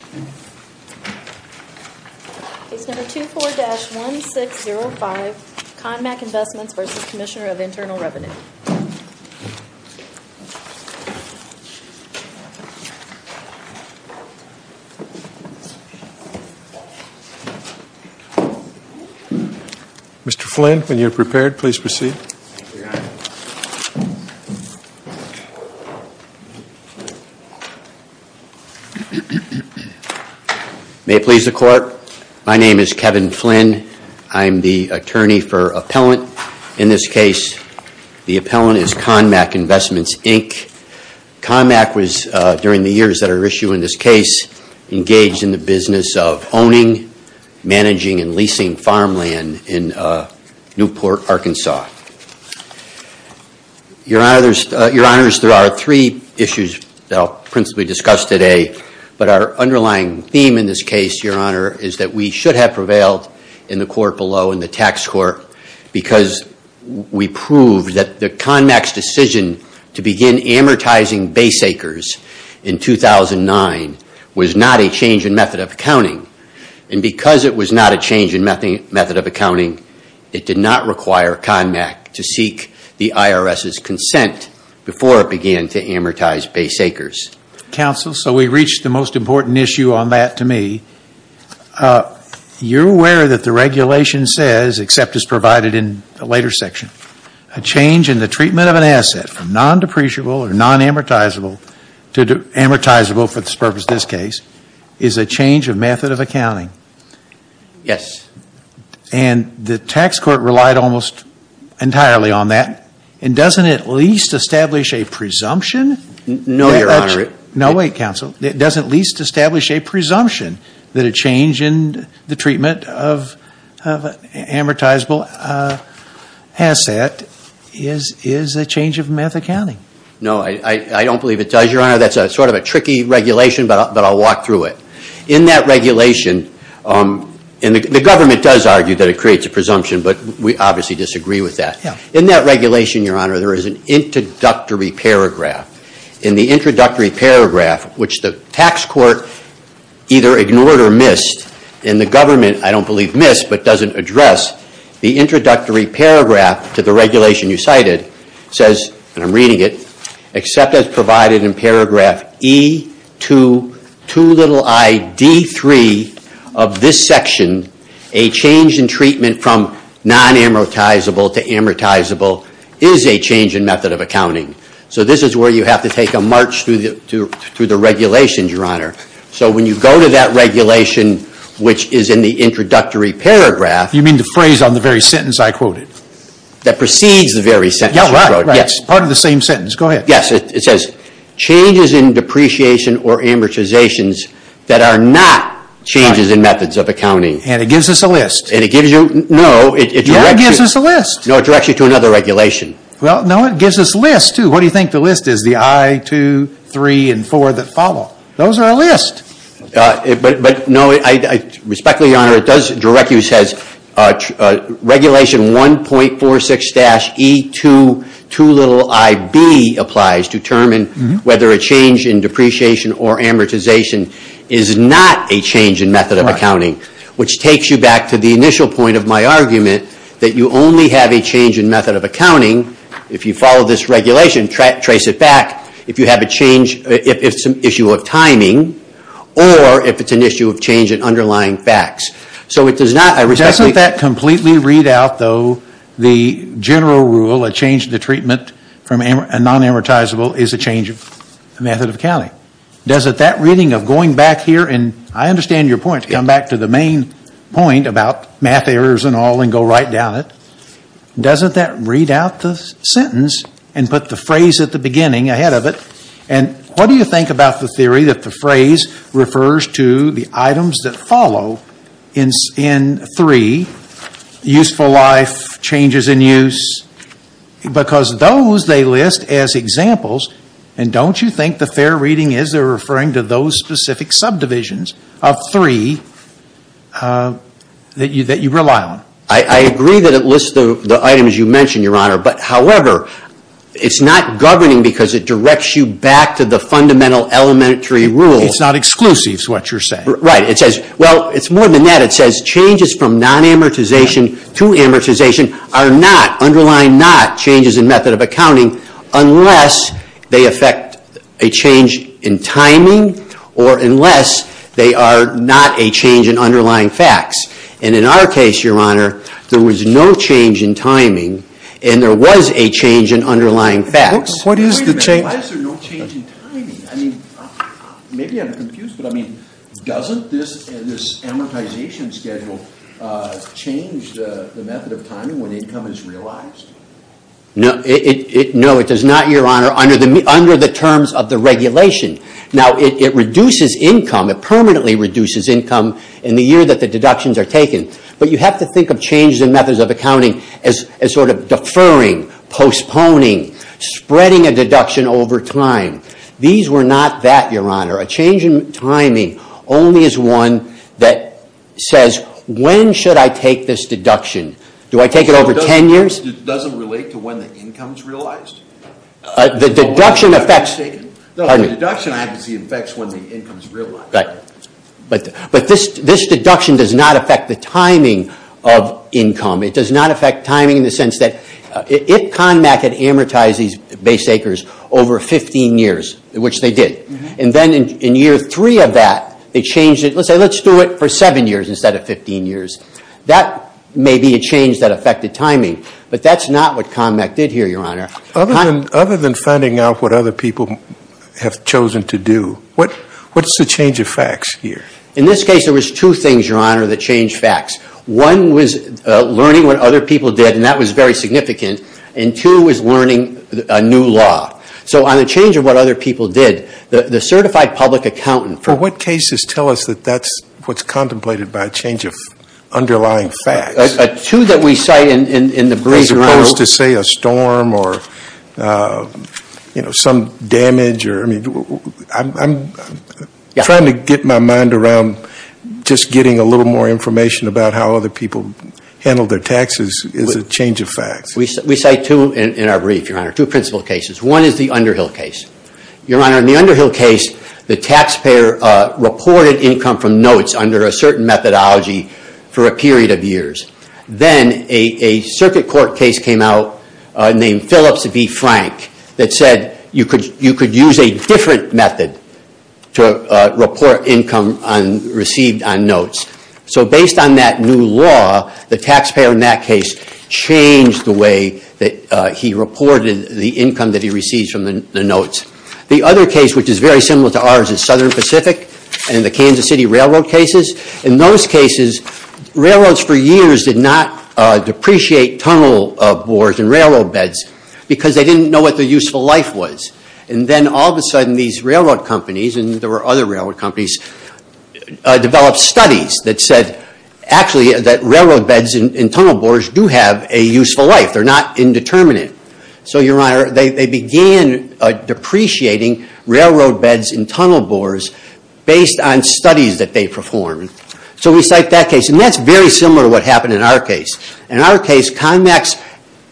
24-1605 Conmac Investments, Inc. v. Commissioner of Internal Revenue Mr. Flynn, when you're prepared, please proceed. May it please the Court, my name is Kevin Flynn, I'm the attorney for appellant. In this case, the appellant is Conmac Investments, Inc. Conmac was, during the years that are at issue in this case, engaged in the business of owning, managing, and leasing farmland in Newport, Arkansas. Your Honors, there are three issues that I'll principally discuss today, but our underlying theme in this case, Your Honor, is that we should have prevailed in the court below, in the tax court, because we proved that the Conmac's decision to begin amortizing base acres in 2009 was not a change in method of accounting. And because it was not a change in method of accounting, it did not require Conmac to seek the IRS's consent before it began to amortize base acres. Counsel, so we've reached the most important issue on that to me. You're aware that the regulation says, except as provided in a later section, a change in the treatment of an asset from non-depreciable or non-amortizable to amortizable for this purpose, this case, is a change of method of accounting. Yes. And the tax court relied almost entirely on that. And doesn't it at least establish a presumption? No, Your Honor. No, wait, Counsel. It doesn't at least establish a presumption that a change in the treatment of an amortizable asset is a change of method of accounting. No, I don't believe it does, Your Honor. That's sort of a tricky regulation, but I'll walk through it. In that regulation, and the government does argue that it creates a presumption, but we obviously disagree with that. In that regulation, Your Honor, there is an introductory paragraph. In the introductory paragraph, which the tax court either ignored or missed, and the government, I don't believe, missed, but doesn't address. The introductory paragraph to the regulation you cited says, and I'm reading it, except as provided in paragraph E22id3 of this section, a change in treatment from non-amortizable to amortizable is a change in method of accounting. So this is where you have to take a march through the regulations, Your Honor. So when you go to that regulation, which is in the introductory paragraph. You mean the phrase on the very sentence I quoted? That precedes the very sentence you quoted, yes. Yeah, right, right, part of the same sentence, go ahead. Yes, it says, changes in depreciation or amortizations that are not changes in methods of accounting. And it gives us a list. And it gives you, no, it directs you. Yeah, it gives us a list. No, it directs you to another regulation. Well, no, it gives us lists, too. What do you think the list is, the I, 2, 3, and 4 that follow? Those are a list. But, no, respectfully, Your Honor, it does direct you, it says, regulation 1.46-E22iB applies to determine whether a change in depreciation or amortization is not a change in method of accounting. Which takes you back to the initial point of my argument, that you only have a change in method of accounting, if you follow this regulation, trace it back, if you have a change, if it's an issue of timing, or if it's an issue of change in underlying facts. So it does not, I respect that. Doesn't that completely read out, though, the general rule, a change to the treatment from a non-amortizable is a change in method of accounting? Why? Doesn't that reading of going back here, and I understand your point, to come back to the main point about math errors and all, and go right down it, doesn't that read out the sentence and put the phrase at the beginning ahead of it? And what do you think about the theory that the phrase refers to the items that follow in 3, useful life, changes in use, because those they list as examples, and don't you think the fair reading is they're referring to those specific subdivisions of 3 that you rely on? I agree that it lists the items you mentioned, Your Honor, but however, it's not governing because it directs you back to the fundamental elementary rules. It's not exclusive, is what you're saying. Right. It says, well, it's more than that. It says changes from non-amortization to amortization are not, underlying not, changes in method of accounting, unless they affect a change in timing, or unless they are not a change in underlying facts. And in our case, Your Honor, there was no change in timing, and there was a change in underlying facts. What is the change? Wait a minute, why is there no change in timing? I mean, maybe I'm confused, but I mean, doesn't this amortization schedule change the method of timing when income is realized? No, it does not, Your Honor, under the terms of the regulation. Now, it reduces income, it permanently reduces income in the year that the deductions are taken, but you have to think of changes in methods of accounting as sort of deferring, postponing, spreading a deduction over time. These were not that, Your Honor. A change in timing only is one that says, when should I take this deduction? Do I take it over 10 years? Doesn't it relate to when the income is realized? The deduction affects... No, the deduction obviously affects when the income is realized. But this deduction does not affect the timing of income. It does not affect timing in the sense that if CONMAC had amortized these base acres over 15 years, which they did, and then in year 3 of that, they changed it, let's say, let's do it for 7 years instead of 15 years. That may be a change that affected timing, but that's not what CONMAC did here, Your Honor. Other than finding out what other people have chosen to do, what's the change of facts here? In this case, there was two things, Your Honor, that changed facts. One was learning what other people did, and that was very significant, and two was learning a new law. So on the change of what other people did, the certified public accountant... For what cases tell us that that's what's contemplated by a change of underlying facts? Two that we cite in the brief, Your Honor... As opposed to, say, a storm, or, you know, some damage, or, I mean, I'm trying to get my mind around just getting a little more information about how other people handle their taxes is a change of facts. We cite two in our brief, Your Honor, two principal cases. One is the Underhill case. Your Honor, in the Underhill case, the taxpayer reported income from notes under a certain methodology for a period of years. Then a circuit court case came out named Phillips v. Frank that said you could use a different method to report income received on notes. So based on that new law, the taxpayer in that case changed the way that he reported the income that he received from the notes. The other case, which is very similar to ours is Southern Pacific and the Kansas City Railroad cases. In those cases, railroads for years did not depreciate tunnel bores and railroad beds because they didn't know what their useful life was. And then all of a sudden, these railroad companies, and there were other railroad companies, developed studies that said, actually, that railroad beds and tunnel bores do have a useful life. They're not indeterminate. So, Your Honor, they began depreciating railroad beds and tunnel bores based on studies that they performed. So we cite that case. That's very similar to what happened in our case. In our case, CONMAC's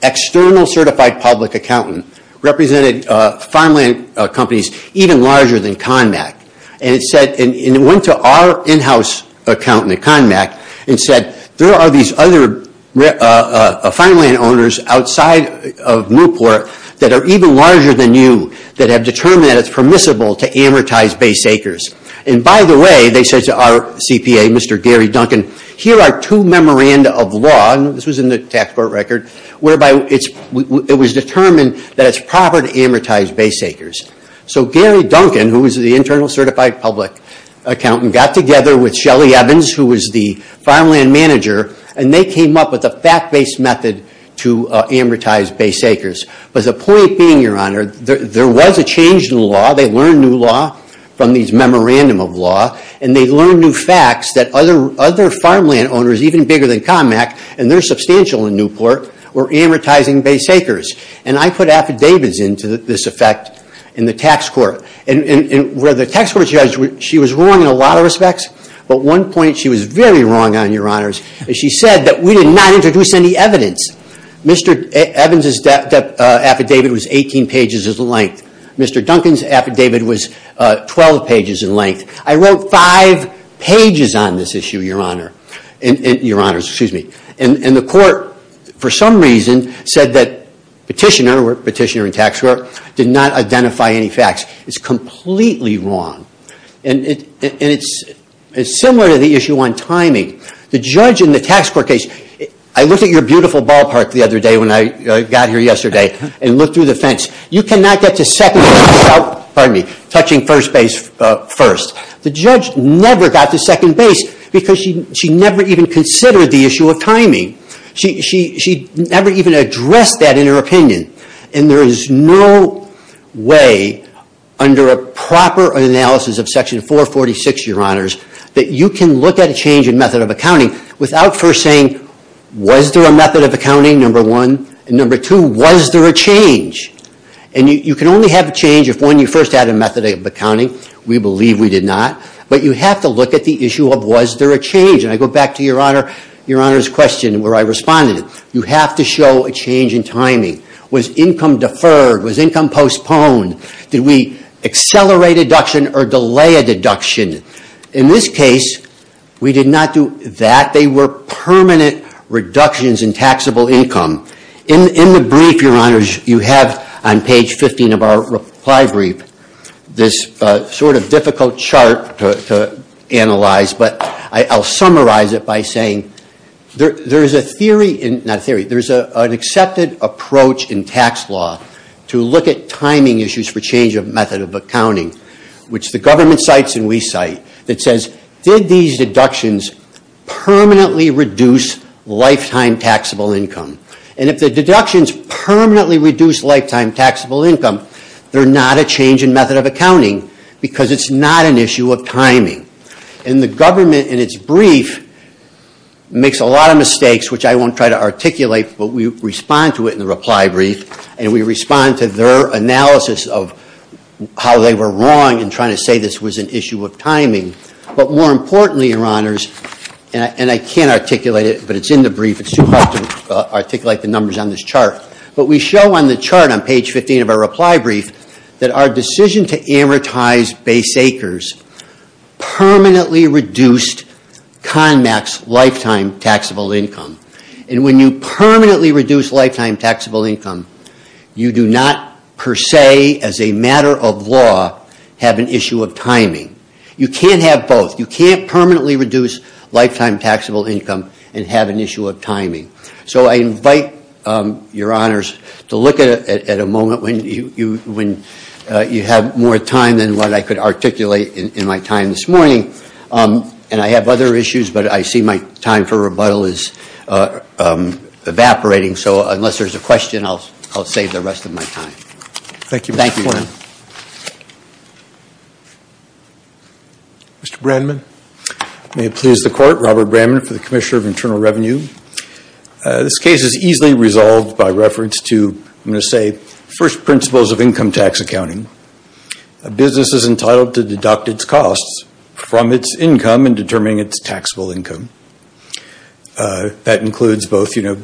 external certified public accountant represented farmland companies even larger than CONMAC. It went to our in-house accountant at CONMAC and said, there are these other farmland owners outside of Newport that are even larger than you that have determined that it's And by the way, they said to our CPA, Mr. Gary Duncan, here are two memoranda of law and this was in the tax court record, whereby it was determined that it's proper to amortize base acres. So Gary Duncan, who was the internal certified public accountant, got together with Shelly Evans, who was the farmland manager, and they came up with a fact-based method to amortize base acres. But the point being, Your Honor, there was a change in the law. They learned new law from these memoranda of law, and they learned new facts that other farmland owners even bigger than CONMAC, and they're substantial in Newport, were amortizing base acres. And I put affidavits into this effect in the tax court. Where the tax court judge, she was wrong in a lot of respects, but one point she was very wrong on, Your Honor, is she said that we did not introduce any evidence. Mr. Evans' affidavit was 18 pages in length. Mr. Duncan's affidavit was 12 pages in length. I wrote five pages on this issue, Your Honor. Your Honors, excuse me. And the court, for some reason, said that petitioner, or petitioner in tax court, did not identify any facts. It's completely wrong. And it's similar to the issue on timing. The judge in the tax court case, I looked at your beautiful ballpark the other day when I got here yesterday, and looked through the fence. You cannot get to second base without, pardon me, touching first base first. The judge never got to second base because she never even considered the issue of timing. She never even addressed that in her opinion. And there is no way under a proper analysis of section 446, Your Honors, that you can look at a change in method of accounting without first saying was there a method of accounting, number one. And number two, was there a change? And you can only have a change if, one, you first had a method of accounting. We believe we did not. But you have to look at the issue of was there a change. And I go back to Your Honor's question where I responded. You have to show a change in timing. Was income deferred? Was income postponed? Did we accelerate a deduction or delay a deduction? In this case, we did not do that. They were permanent reductions in taxable income. In the brief, Your Honors, you have, on page 15 of our reply brief, this sort of difficult chart to analyze, but I'll summarize it by saying there is a theory, not a theory, there is an accepted approach in tax law to look at timing issues for change of method of accounting, which the government cites and we cite, that says did these deductions permanently reduce lifetime taxable income? And if the deductions permanently reduce lifetime taxable income, they're not a change in method of accounting because it's not an issue of timing. And the government in its brief makes a lot of mistakes, which I won't try to articulate, but we respond to it in the reply brief and we respond to their analysis of how they were wrong in trying to say this was an issue of timing. But more importantly, Your Honors, and I can't articulate it, but it's in the brief, it's too hard to articulate the numbers on this chart, but we show on the chart on page 15 of our reply brief that our decision to amortize base acres permanently reduced CONMAX lifetime taxable income. And when you permanently reduce lifetime taxable income, you do not, per se, as a matter of law, have an issue of timing. You can't have both. You can't permanently reduce lifetime taxable income and have an issue of timing. So I invite Your Honors to look at a moment when you have more time than what I could articulate in my time this morning. And I have other issues, but I see my time for rebuttal is evaporating, so unless there's a question, I'll save the rest of my time. Thank you. Mr. Brandman. May it please the Court, Robert Brandman for the Commissioner of Internal Revenue. This case is easily resolved by reference to, I'm going to say, first principles of income tax accounting. A business is entitled to deduct its costs from its income in determining its taxable income. That includes both, you know,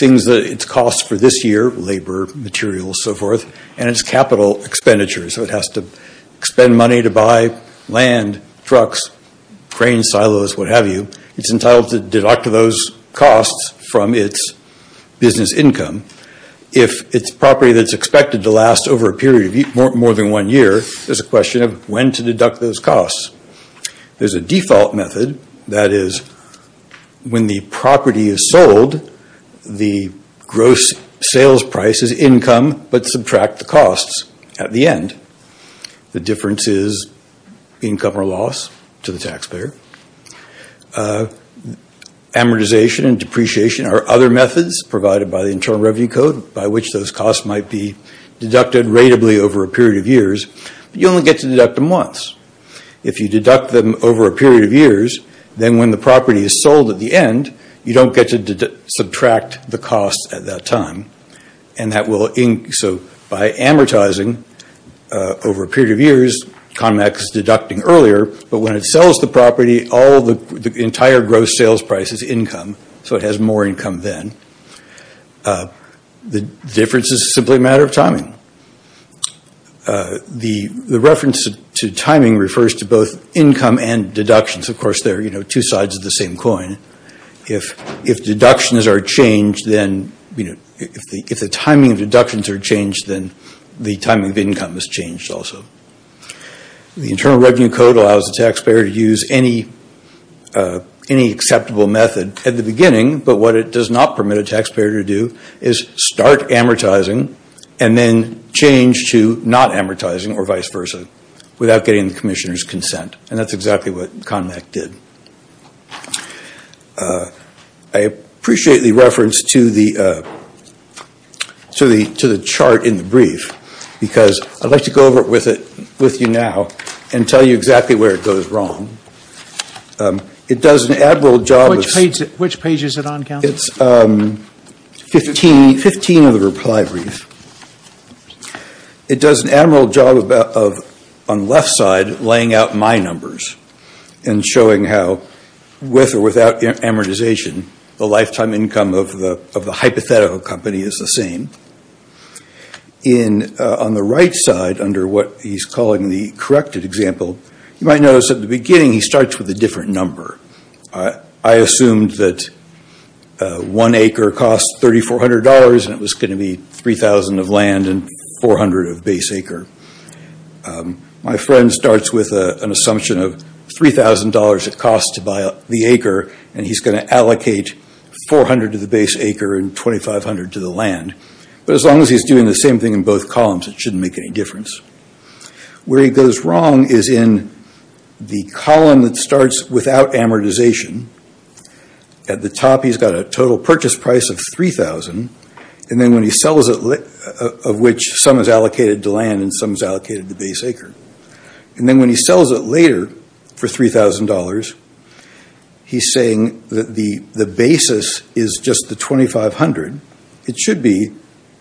things that it costs for this year, labor, materials, so forth, and its capital expenditures. So it has to spend money to buy land, trucks, crane silos, what have you. It's entitled to deduct those costs from its business income. If it's property that's expected to last over a period of more than one year, there's a question of when to deduct those costs. There's a default method that is, when the property is sold, the gross sales price is income, but subtract the costs at the end. The difference is income or loss to the taxpayer. Amortization and depreciation are other methods provided by the Internal Revenue Code by which those costs might be deducted ratably over a period of years, but you only get to deduct them once. If you deduct them over a period of years, then when the property is sold at the end, you don't get to subtract the costs at that time. By amortizing over a period of years, CONMAC is deducting earlier, but when it sells the property, the entire gross sales price is income, so it has more income then. The difference is simply a matter of timing. The reference to timing refers to both income and deductions. Of course, they're two sides of the same coin. If deductions are changed, then if the timing of deductions are changed, then the timing of income is changed also. The Internal Revenue Code allows the taxpayer to use any acceptable method at the beginning, but what it does not permit a taxpayer to do is start amortizing and then change to not amortizing or vice versa without getting the Commissioner's consent. That's exactly what CONMAC did. I appreciate the reference to the chart in the brief because I'd like to go over it with you now and tell you exactly where it goes wrong. It does an admiral job... Which page is it on, Counsel? It's 15 of the reply brief. It does an admiral job on the left side laying out my numbers and showing how with or without amortization the lifetime income of the hypothetical company is the same. On the right side, under what he's calling the corrected example, you might notice at the beginning he starts with a different number. I assumed that one acre cost $3,400 and it was going to be $3,000 of land and $400 of base acre. My friend starts with an assumption of $3,000 it costs to buy the acre and he's going to allocate $400 to the base acre and $2,500 to the land. But as long as he's doing the same thing in both columns it shouldn't make any difference. Where he goes wrong is in the column that starts without amortization. At the top he's got a total purchase price of $3,000 and then when he sells it of which some is allocated to land and some is allocated to base acre. And then when he sells it later for $3,000 he's saying that the basis is just the $2,500. It should be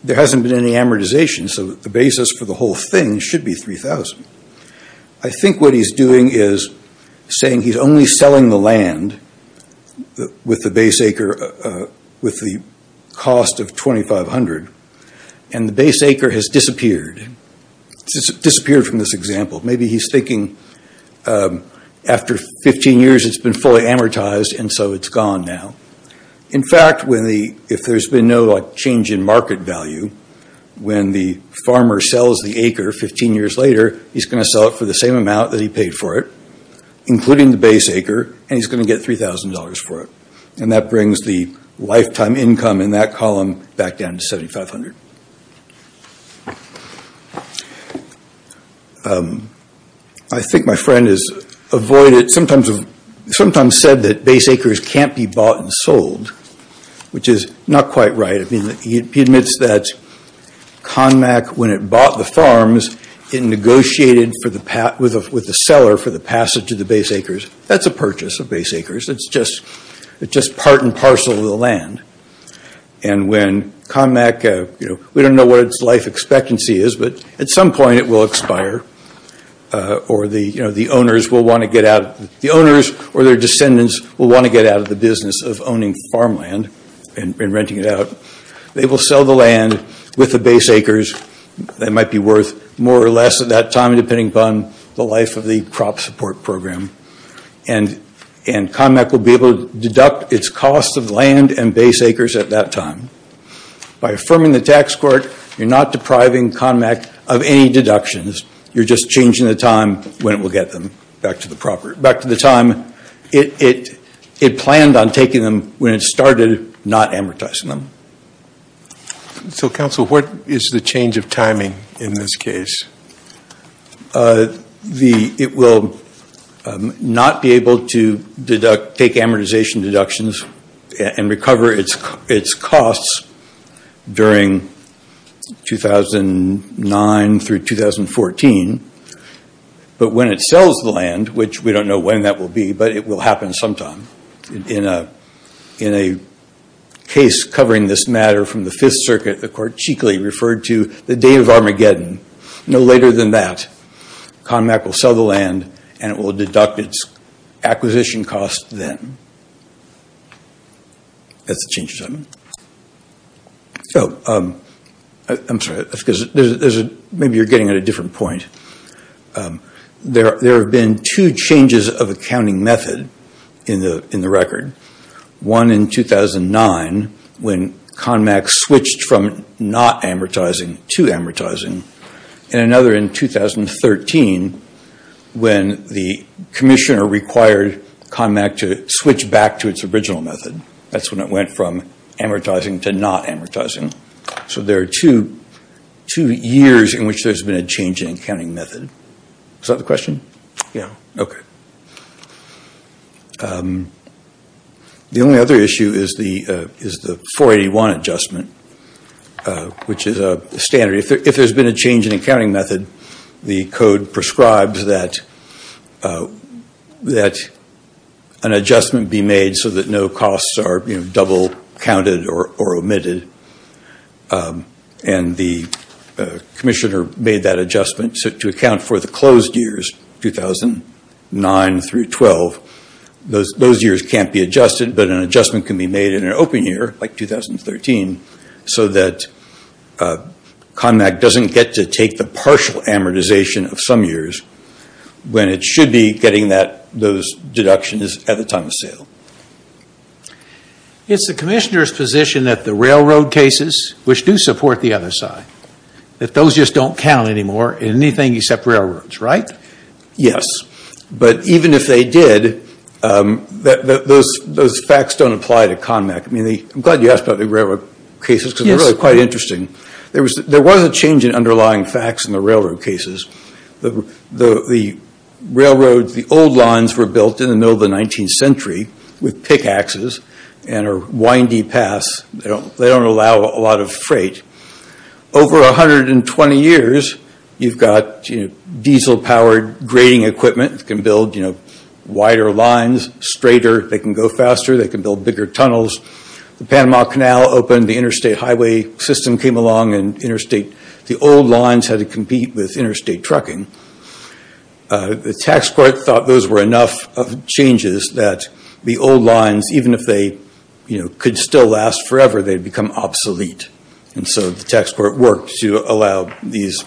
there hasn't been any amortization so the basis for the whole thing should be $3,000. I think what he's doing is saying he's only selling the land with the base acre with the cost of $2,500 and the base acre has disappeared. Disappeared from this example. Maybe he's thinking after 15 years it's been fully amortized and so it's gone now. In fact if there's been no change in market value when the farmer sells the acre 15 years later he's going to sell it for the same amount that he paid for it including the base acre and he's going to get $3,000 for it. And that brings the lifetime income in that column back down to $7,500. I think my friend sometimes said that base acres can't be bought and sold which is not quite right. He admits that CONMAC when it bought the farms it negotiated with the seller for the passage of the base acres. That's a purchase of base acres. It's just part and parcel of the land. And when CONMAC we don't know what it's life expectancy is but at some point it will expire or the owners will want to get out. The owners or their descendants will want to get out of the business of owning farmland and renting it out. They will sell the land with the base acres that might be worth more or less at that time depending upon the life of the crop support program. And CONMAC will be able to deduct its cost of land and base acres at that time. By affirming the tax court you're not depriving CONMAC of any deductions. You're just changing the time when it will get them back to the property. Back to the time it planned on taking them when it started not amortizing them. So council, what is the change of timing in this case? It will not be able to take amortization deductions and recover its costs during 2009 through 2014 but when it sells the land, which we don't know when that will be but it will happen sometime in a case covering this matter from the 5th circuit, the court cheekily referred to the day of Armageddon. No later than that CONMAC will sell the land and it will deduct its acquisition cost then. That's the change in timing. I'm sorry maybe you're getting at a different point. There have been two changes of accounting method in the record. One in 2009 when CONMAC switched from not amortizing to amortizing and another in 2013 when the commissioner required CONMAC to switch back to its original method. That's when it went from amortizing to not amortizing. So there are two years in which there has been a change in accounting method. Is that the question? Yeah. Okay. The only other issue is the 481 adjustment which is standard. If there has been a change in accounting method, the code prescribes that an adjustment be made so that no costs are double counted or omitted. And the commissioner made that adjustment to account for the closed years 2009 through 2012. Those years can't be adjusted but an adjustment can be made in an open year like 2013 so that CONMAC doesn't get to take the partial amortization of some years when it should be getting those deductions at the time of sale. It's the commissioner's position that the railroad cases which do support the other side, that those just don't count anymore in anything except railroads, right? Yes. But even if they did, those facts don't apply to CONMAC. I'm glad you asked about the railroad cases because they're really quite interesting. There was a change in underlying facts in the railroad cases. The railroad, the old lines were built in the middle of the 19th century with pickaxes and a windy pass. They don't allow a lot of freight. Over 120 years, you've got diesel-powered grading equipment that can build wider lines, straighter, they can go faster, they can build bigger tunnels. The Panama Canal opened, the interstate highway system came along and the old lines had to compete with interstate trucking. The tax court thought those were enough changes that the old lines, even if they could still last forever, they'd become obsolete. And so the tax court worked to allow these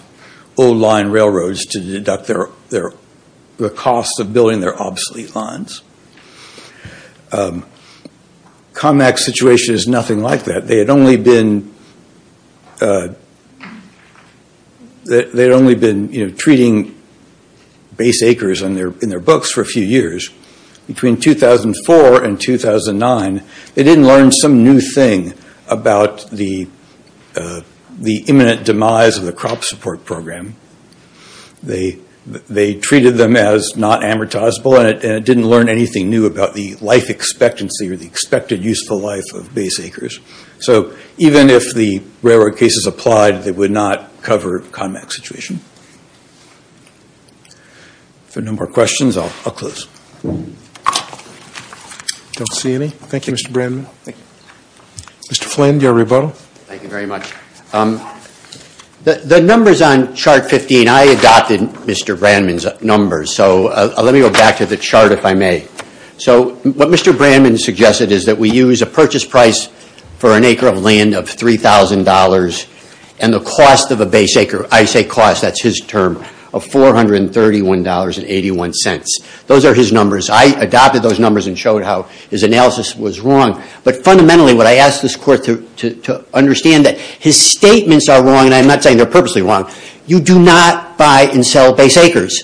old line railroads to deduct the cost of building their obsolete lines. CONMAC's situation is nothing like that. They had only been treating base acres in their books for a few years. Between 2004 and 2009, they didn't learn some new thing about the imminent demise of the crop support program. They treated them as not amortizable and didn't learn anything new about the life expectancy or the expected useful life of base acres. So even if the railroad cases applied, they would not cover CONMAC's situation. If there are no more questions, I'll close. I don't see any. Thank you, Mr. Brandman. Mr. Flynn, do you have a rebuttal? Thank you very much. The numbers on chart 15, I adopted Mr. Brandman's numbers. Let me go back to the chart, if I may. What Mr. Brandman suggested is that we use a purchase price for an acre of land of $3,000 and the cost of a base acre, I say cost, that's his term, of $431.81. Those are his numbers. I adopted those numbers and showed how his analysis was wrong. But fundamentally, what I asked this court to understand is that his statements are wrong, and I'm not saying they're purposely wrong. You do not buy and sell base acres.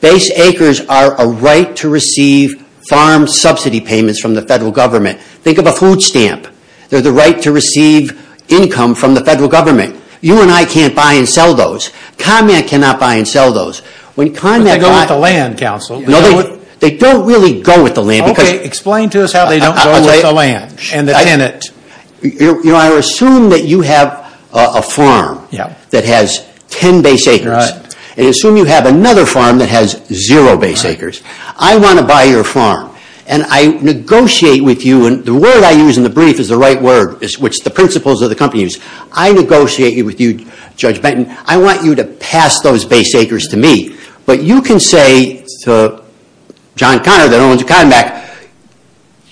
Base acres are a right to receive farm subsidy payments from the federal government. Think of a food stamp. They're the right to receive income from the federal government. You and I can't buy and sell those. CONMAC cannot buy and sell those. But they go with the land, counsel. They don't really go with the land. Explain to us how they don't go with the land and the tenant. I assume that you have a farm that has 10 base acres. I assume you have another farm that has zero base acres. I want to buy your farm, and I negotiate with you, and the word I use in the brief is the right word, which the principles of the company use. I negotiate with you, Judge Benton. I want you to pass those base acres to me. But you can say to John Connor, that owns CONMAC,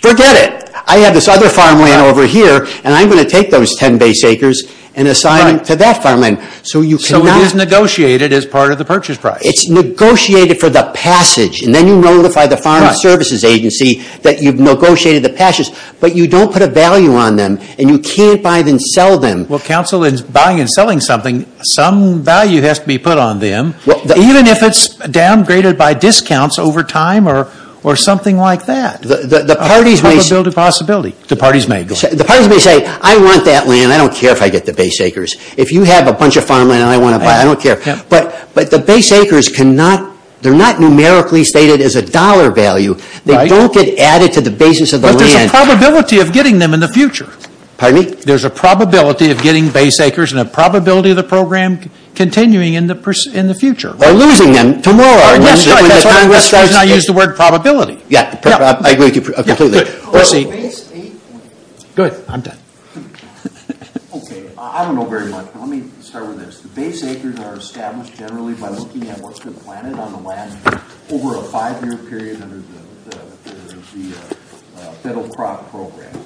forget it! I have this other farmland over here, and I'm going to take those 10 base acres and assign them to that farmland. So it is negotiated as part of the purchase price. It's negotiated for the passage, and then you notify the Farm Services Agency that you've negotiated the passage, but you don't put a value on them, and you can't buy and sell them. Well, counsel, in buying and selling something, some value has to be put on them, even if it's downgraded by discounts over time or something like that. The parties may... The parties may say, I want that land, I don't care if I get the base acres. If you have a bunch of farmland and I want to buy it, I don't care. But the base acres cannot, they're not numerically stated as a dollar value. They don't get added to the basis of the land. But there's a probability of getting them in the future. Pardon me? There's a probability of getting base acres and a probability of the program continuing in the future. Or losing them tomorrow. That's the reason I used the word probability. I agree with you completely. Go ahead. I'm done. I don't know very much, but let me start with this. The base acres are established generally by looking at what's been planted on the land over a five year period under the federal crop program.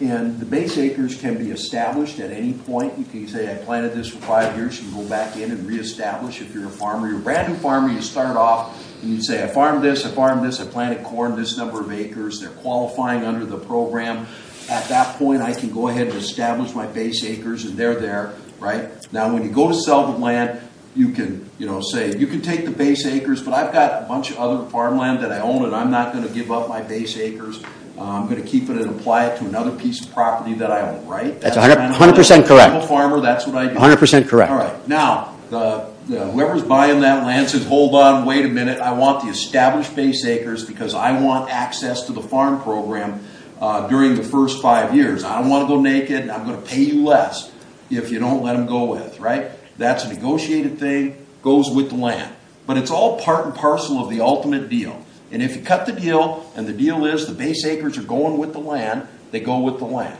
And the base acres can be established at any point. You can say, I planted this for five years, you can go back in and reestablish. If you're a farmer, you're a brand new farmer, you start off and you say, I farmed this, I farmed this, I planted corn this number of acres. They're qualifying under the program. At that point I can go ahead and establish my base acres and they're there. Now when you go to sell the land, you can say, you can take the base acres but I've got a bunch of other farmland that I own and I'm not going to give up my base acres. I'm going to keep it and apply it to another piece of property that I own. That's 100% correct. 100% correct. Now, whoever's buying that land says, hold on, wait a minute, I want the established base acres because I want access to the farm program during the first five years. I don't want to go naked and I'm going to pay you less if you don't let them go with. That's a negotiated thing, goes with the land. But it's all part and parcel of the ultimate deal. And if you cut the deal and the deal is the base acres are going with the land, they go with the land.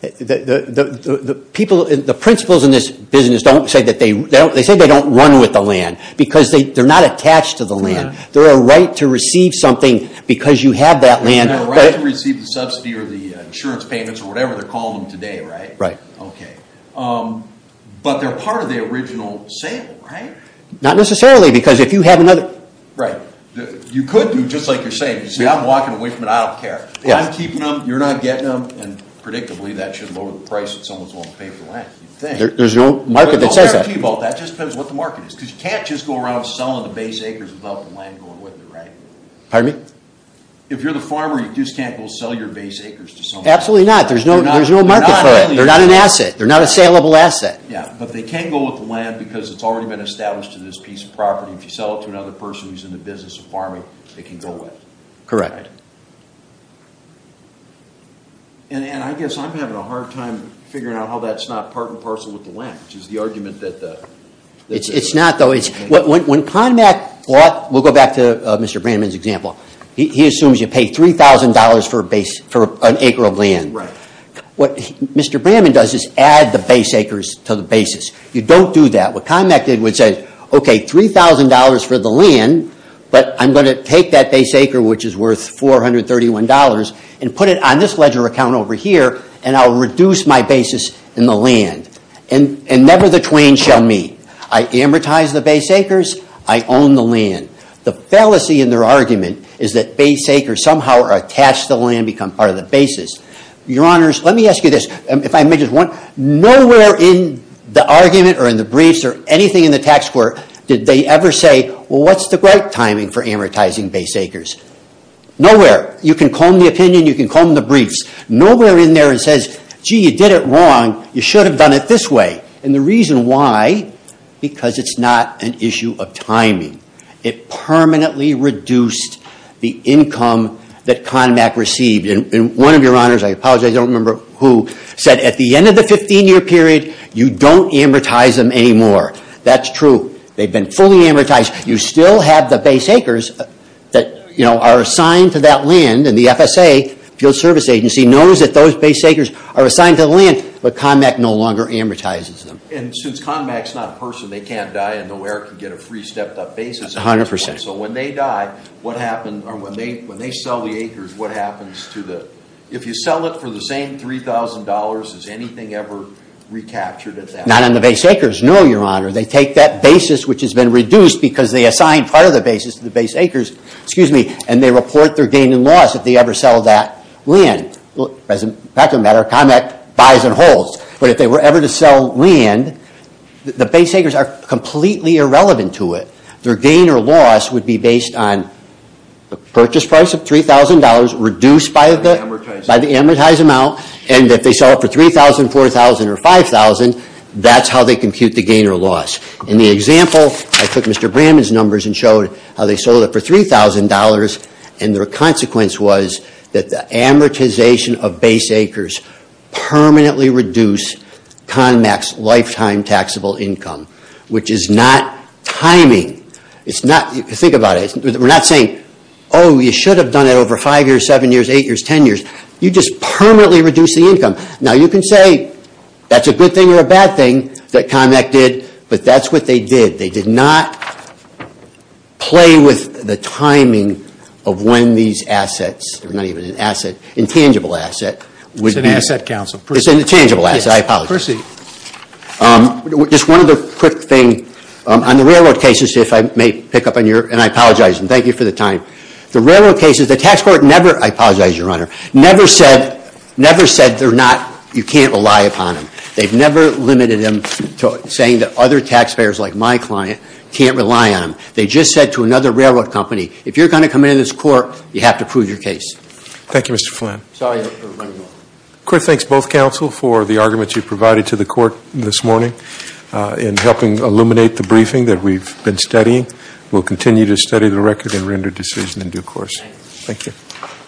The people, the principals in this business don't say that they don't run with the land because they're not attached to the land. They're a right to receive something because you have that land. They're a right to receive the subsidy or the insurance payments or whatever they're calling them today, right? Right. But they're part of the original sale, right? Not necessarily because if you have another... You could do, just like you're saying, I'm walking away from it, I don't care. I'm keeping them, you're not getting them, and predictably that should lower the price if someone's willing to pay for the land. There's no market that says that. That just depends what the market is because you can't just go around selling the base acres without the land going with it, right? If you're the farmer, you just can't go sell your base acres to someone. Absolutely not. There's no market for it. They're not an asset. They're not a saleable asset. But they can go with the land because it's already been established to this piece of property. If you sell it to another person who's in the business of farming, they can go with it. Correct. And I guess I'm having a hard time figuring out how that's not part and parcel with the land, which is the argument that... It's not, though. When CONMAC bought... We'll go back to Mr. Brannman's example. He assumes you pay $3,000 for an acre of land. What Mr. Brannman does is add the base acres to the basis. You don't do that. What CONMAC did was say, okay, $3,000 for the land, but I'm going to take that base acre, which is worth $431, and put it on this ledger account over here, and I'll reduce my basis in the land. And never the twain shall meet. I amortize the base acres. I own the land. The fallacy in their argument is that base acres somehow are attached to the land, become part of the basis. Let me ask you this. Nowhere in the argument or in the briefs or anything in the tax court did they ever say, what's the right timing for amortizing base acres? Nowhere. You can comb the opinion. You can comb the briefs. Nowhere in there it says, gee, you did it wrong. You should have done it this way. And the reason why is because it's not an issue of timing. It permanently reduced the income that CONMAC received. And one of your honors, I apologize, I don't remember who, said at the end of the 15-year period, you don't amortize them anymore. That's true. They've been fully amortized. You still have the base acres that are assigned to that land. And the FSA, Field Service Agency, knows that those base acres are assigned to the land, but CONMAC no longer amortizes them. And since CONMAC's not a person, they can't die and nowhere can get a free stepped-up basis. So when they die, when they sell the acres, what happens to the... If you sell it for the same $3,000, is anything ever recaptured at that point? Not on the base acres, no, your honor. They take that basis which has been reduced because they assigned part of the basis to the base acres, and they report their gain and loss if they ever sell that land. As a matter of fact, CONMAC buys and holds. But if they were ever to sell land, the base acres are completely irrelevant to it. Their gain or loss would be based on the purchase price of $3,000 reduced by the amortized amount, and if they sell it for $3,000, $4,000, or $5,000, that's how they compute the gain or loss. In the example, I took Mr. Brannon's numbers and showed how they sold it for $3,000, and their consequence was that the amortization of base acres permanently reduced CONMAC's lifetime taxable income, which is not timing. It's not... Think about it. We're not saying, oh, you should have done it over five years, seven years, eight years, ten years. You just permanently reduce the income. Now, you can say that's a good thing or a bad thing that CONMAC did, but that's what they did. They did not play with the timing of when these assets, not even an asset, intangible asset, would be... It's an asset, counsel. It's an intangible asset. I apologize. Proceed. Just one other quick thing. On the railroad cases, if I may pick up on your... And I apologize, and thank you for the time. The railroad cases, the tax court never... I apologize, Your Honor. Never said they're not... You can't rely upon them. They've never limited them to saying that other tax payers, like my client, can't rely on them. They just said to another railroad company, if you're going to come into this court, you have to prove your case. Thank you, Mr. Flynn. Sorry for running off. Thanks, both counsel, for the arguments you provided to the court this morning in helping illuminate the briefing that we've been studying. We'll continue to study the record and render decision in due course. Thank you.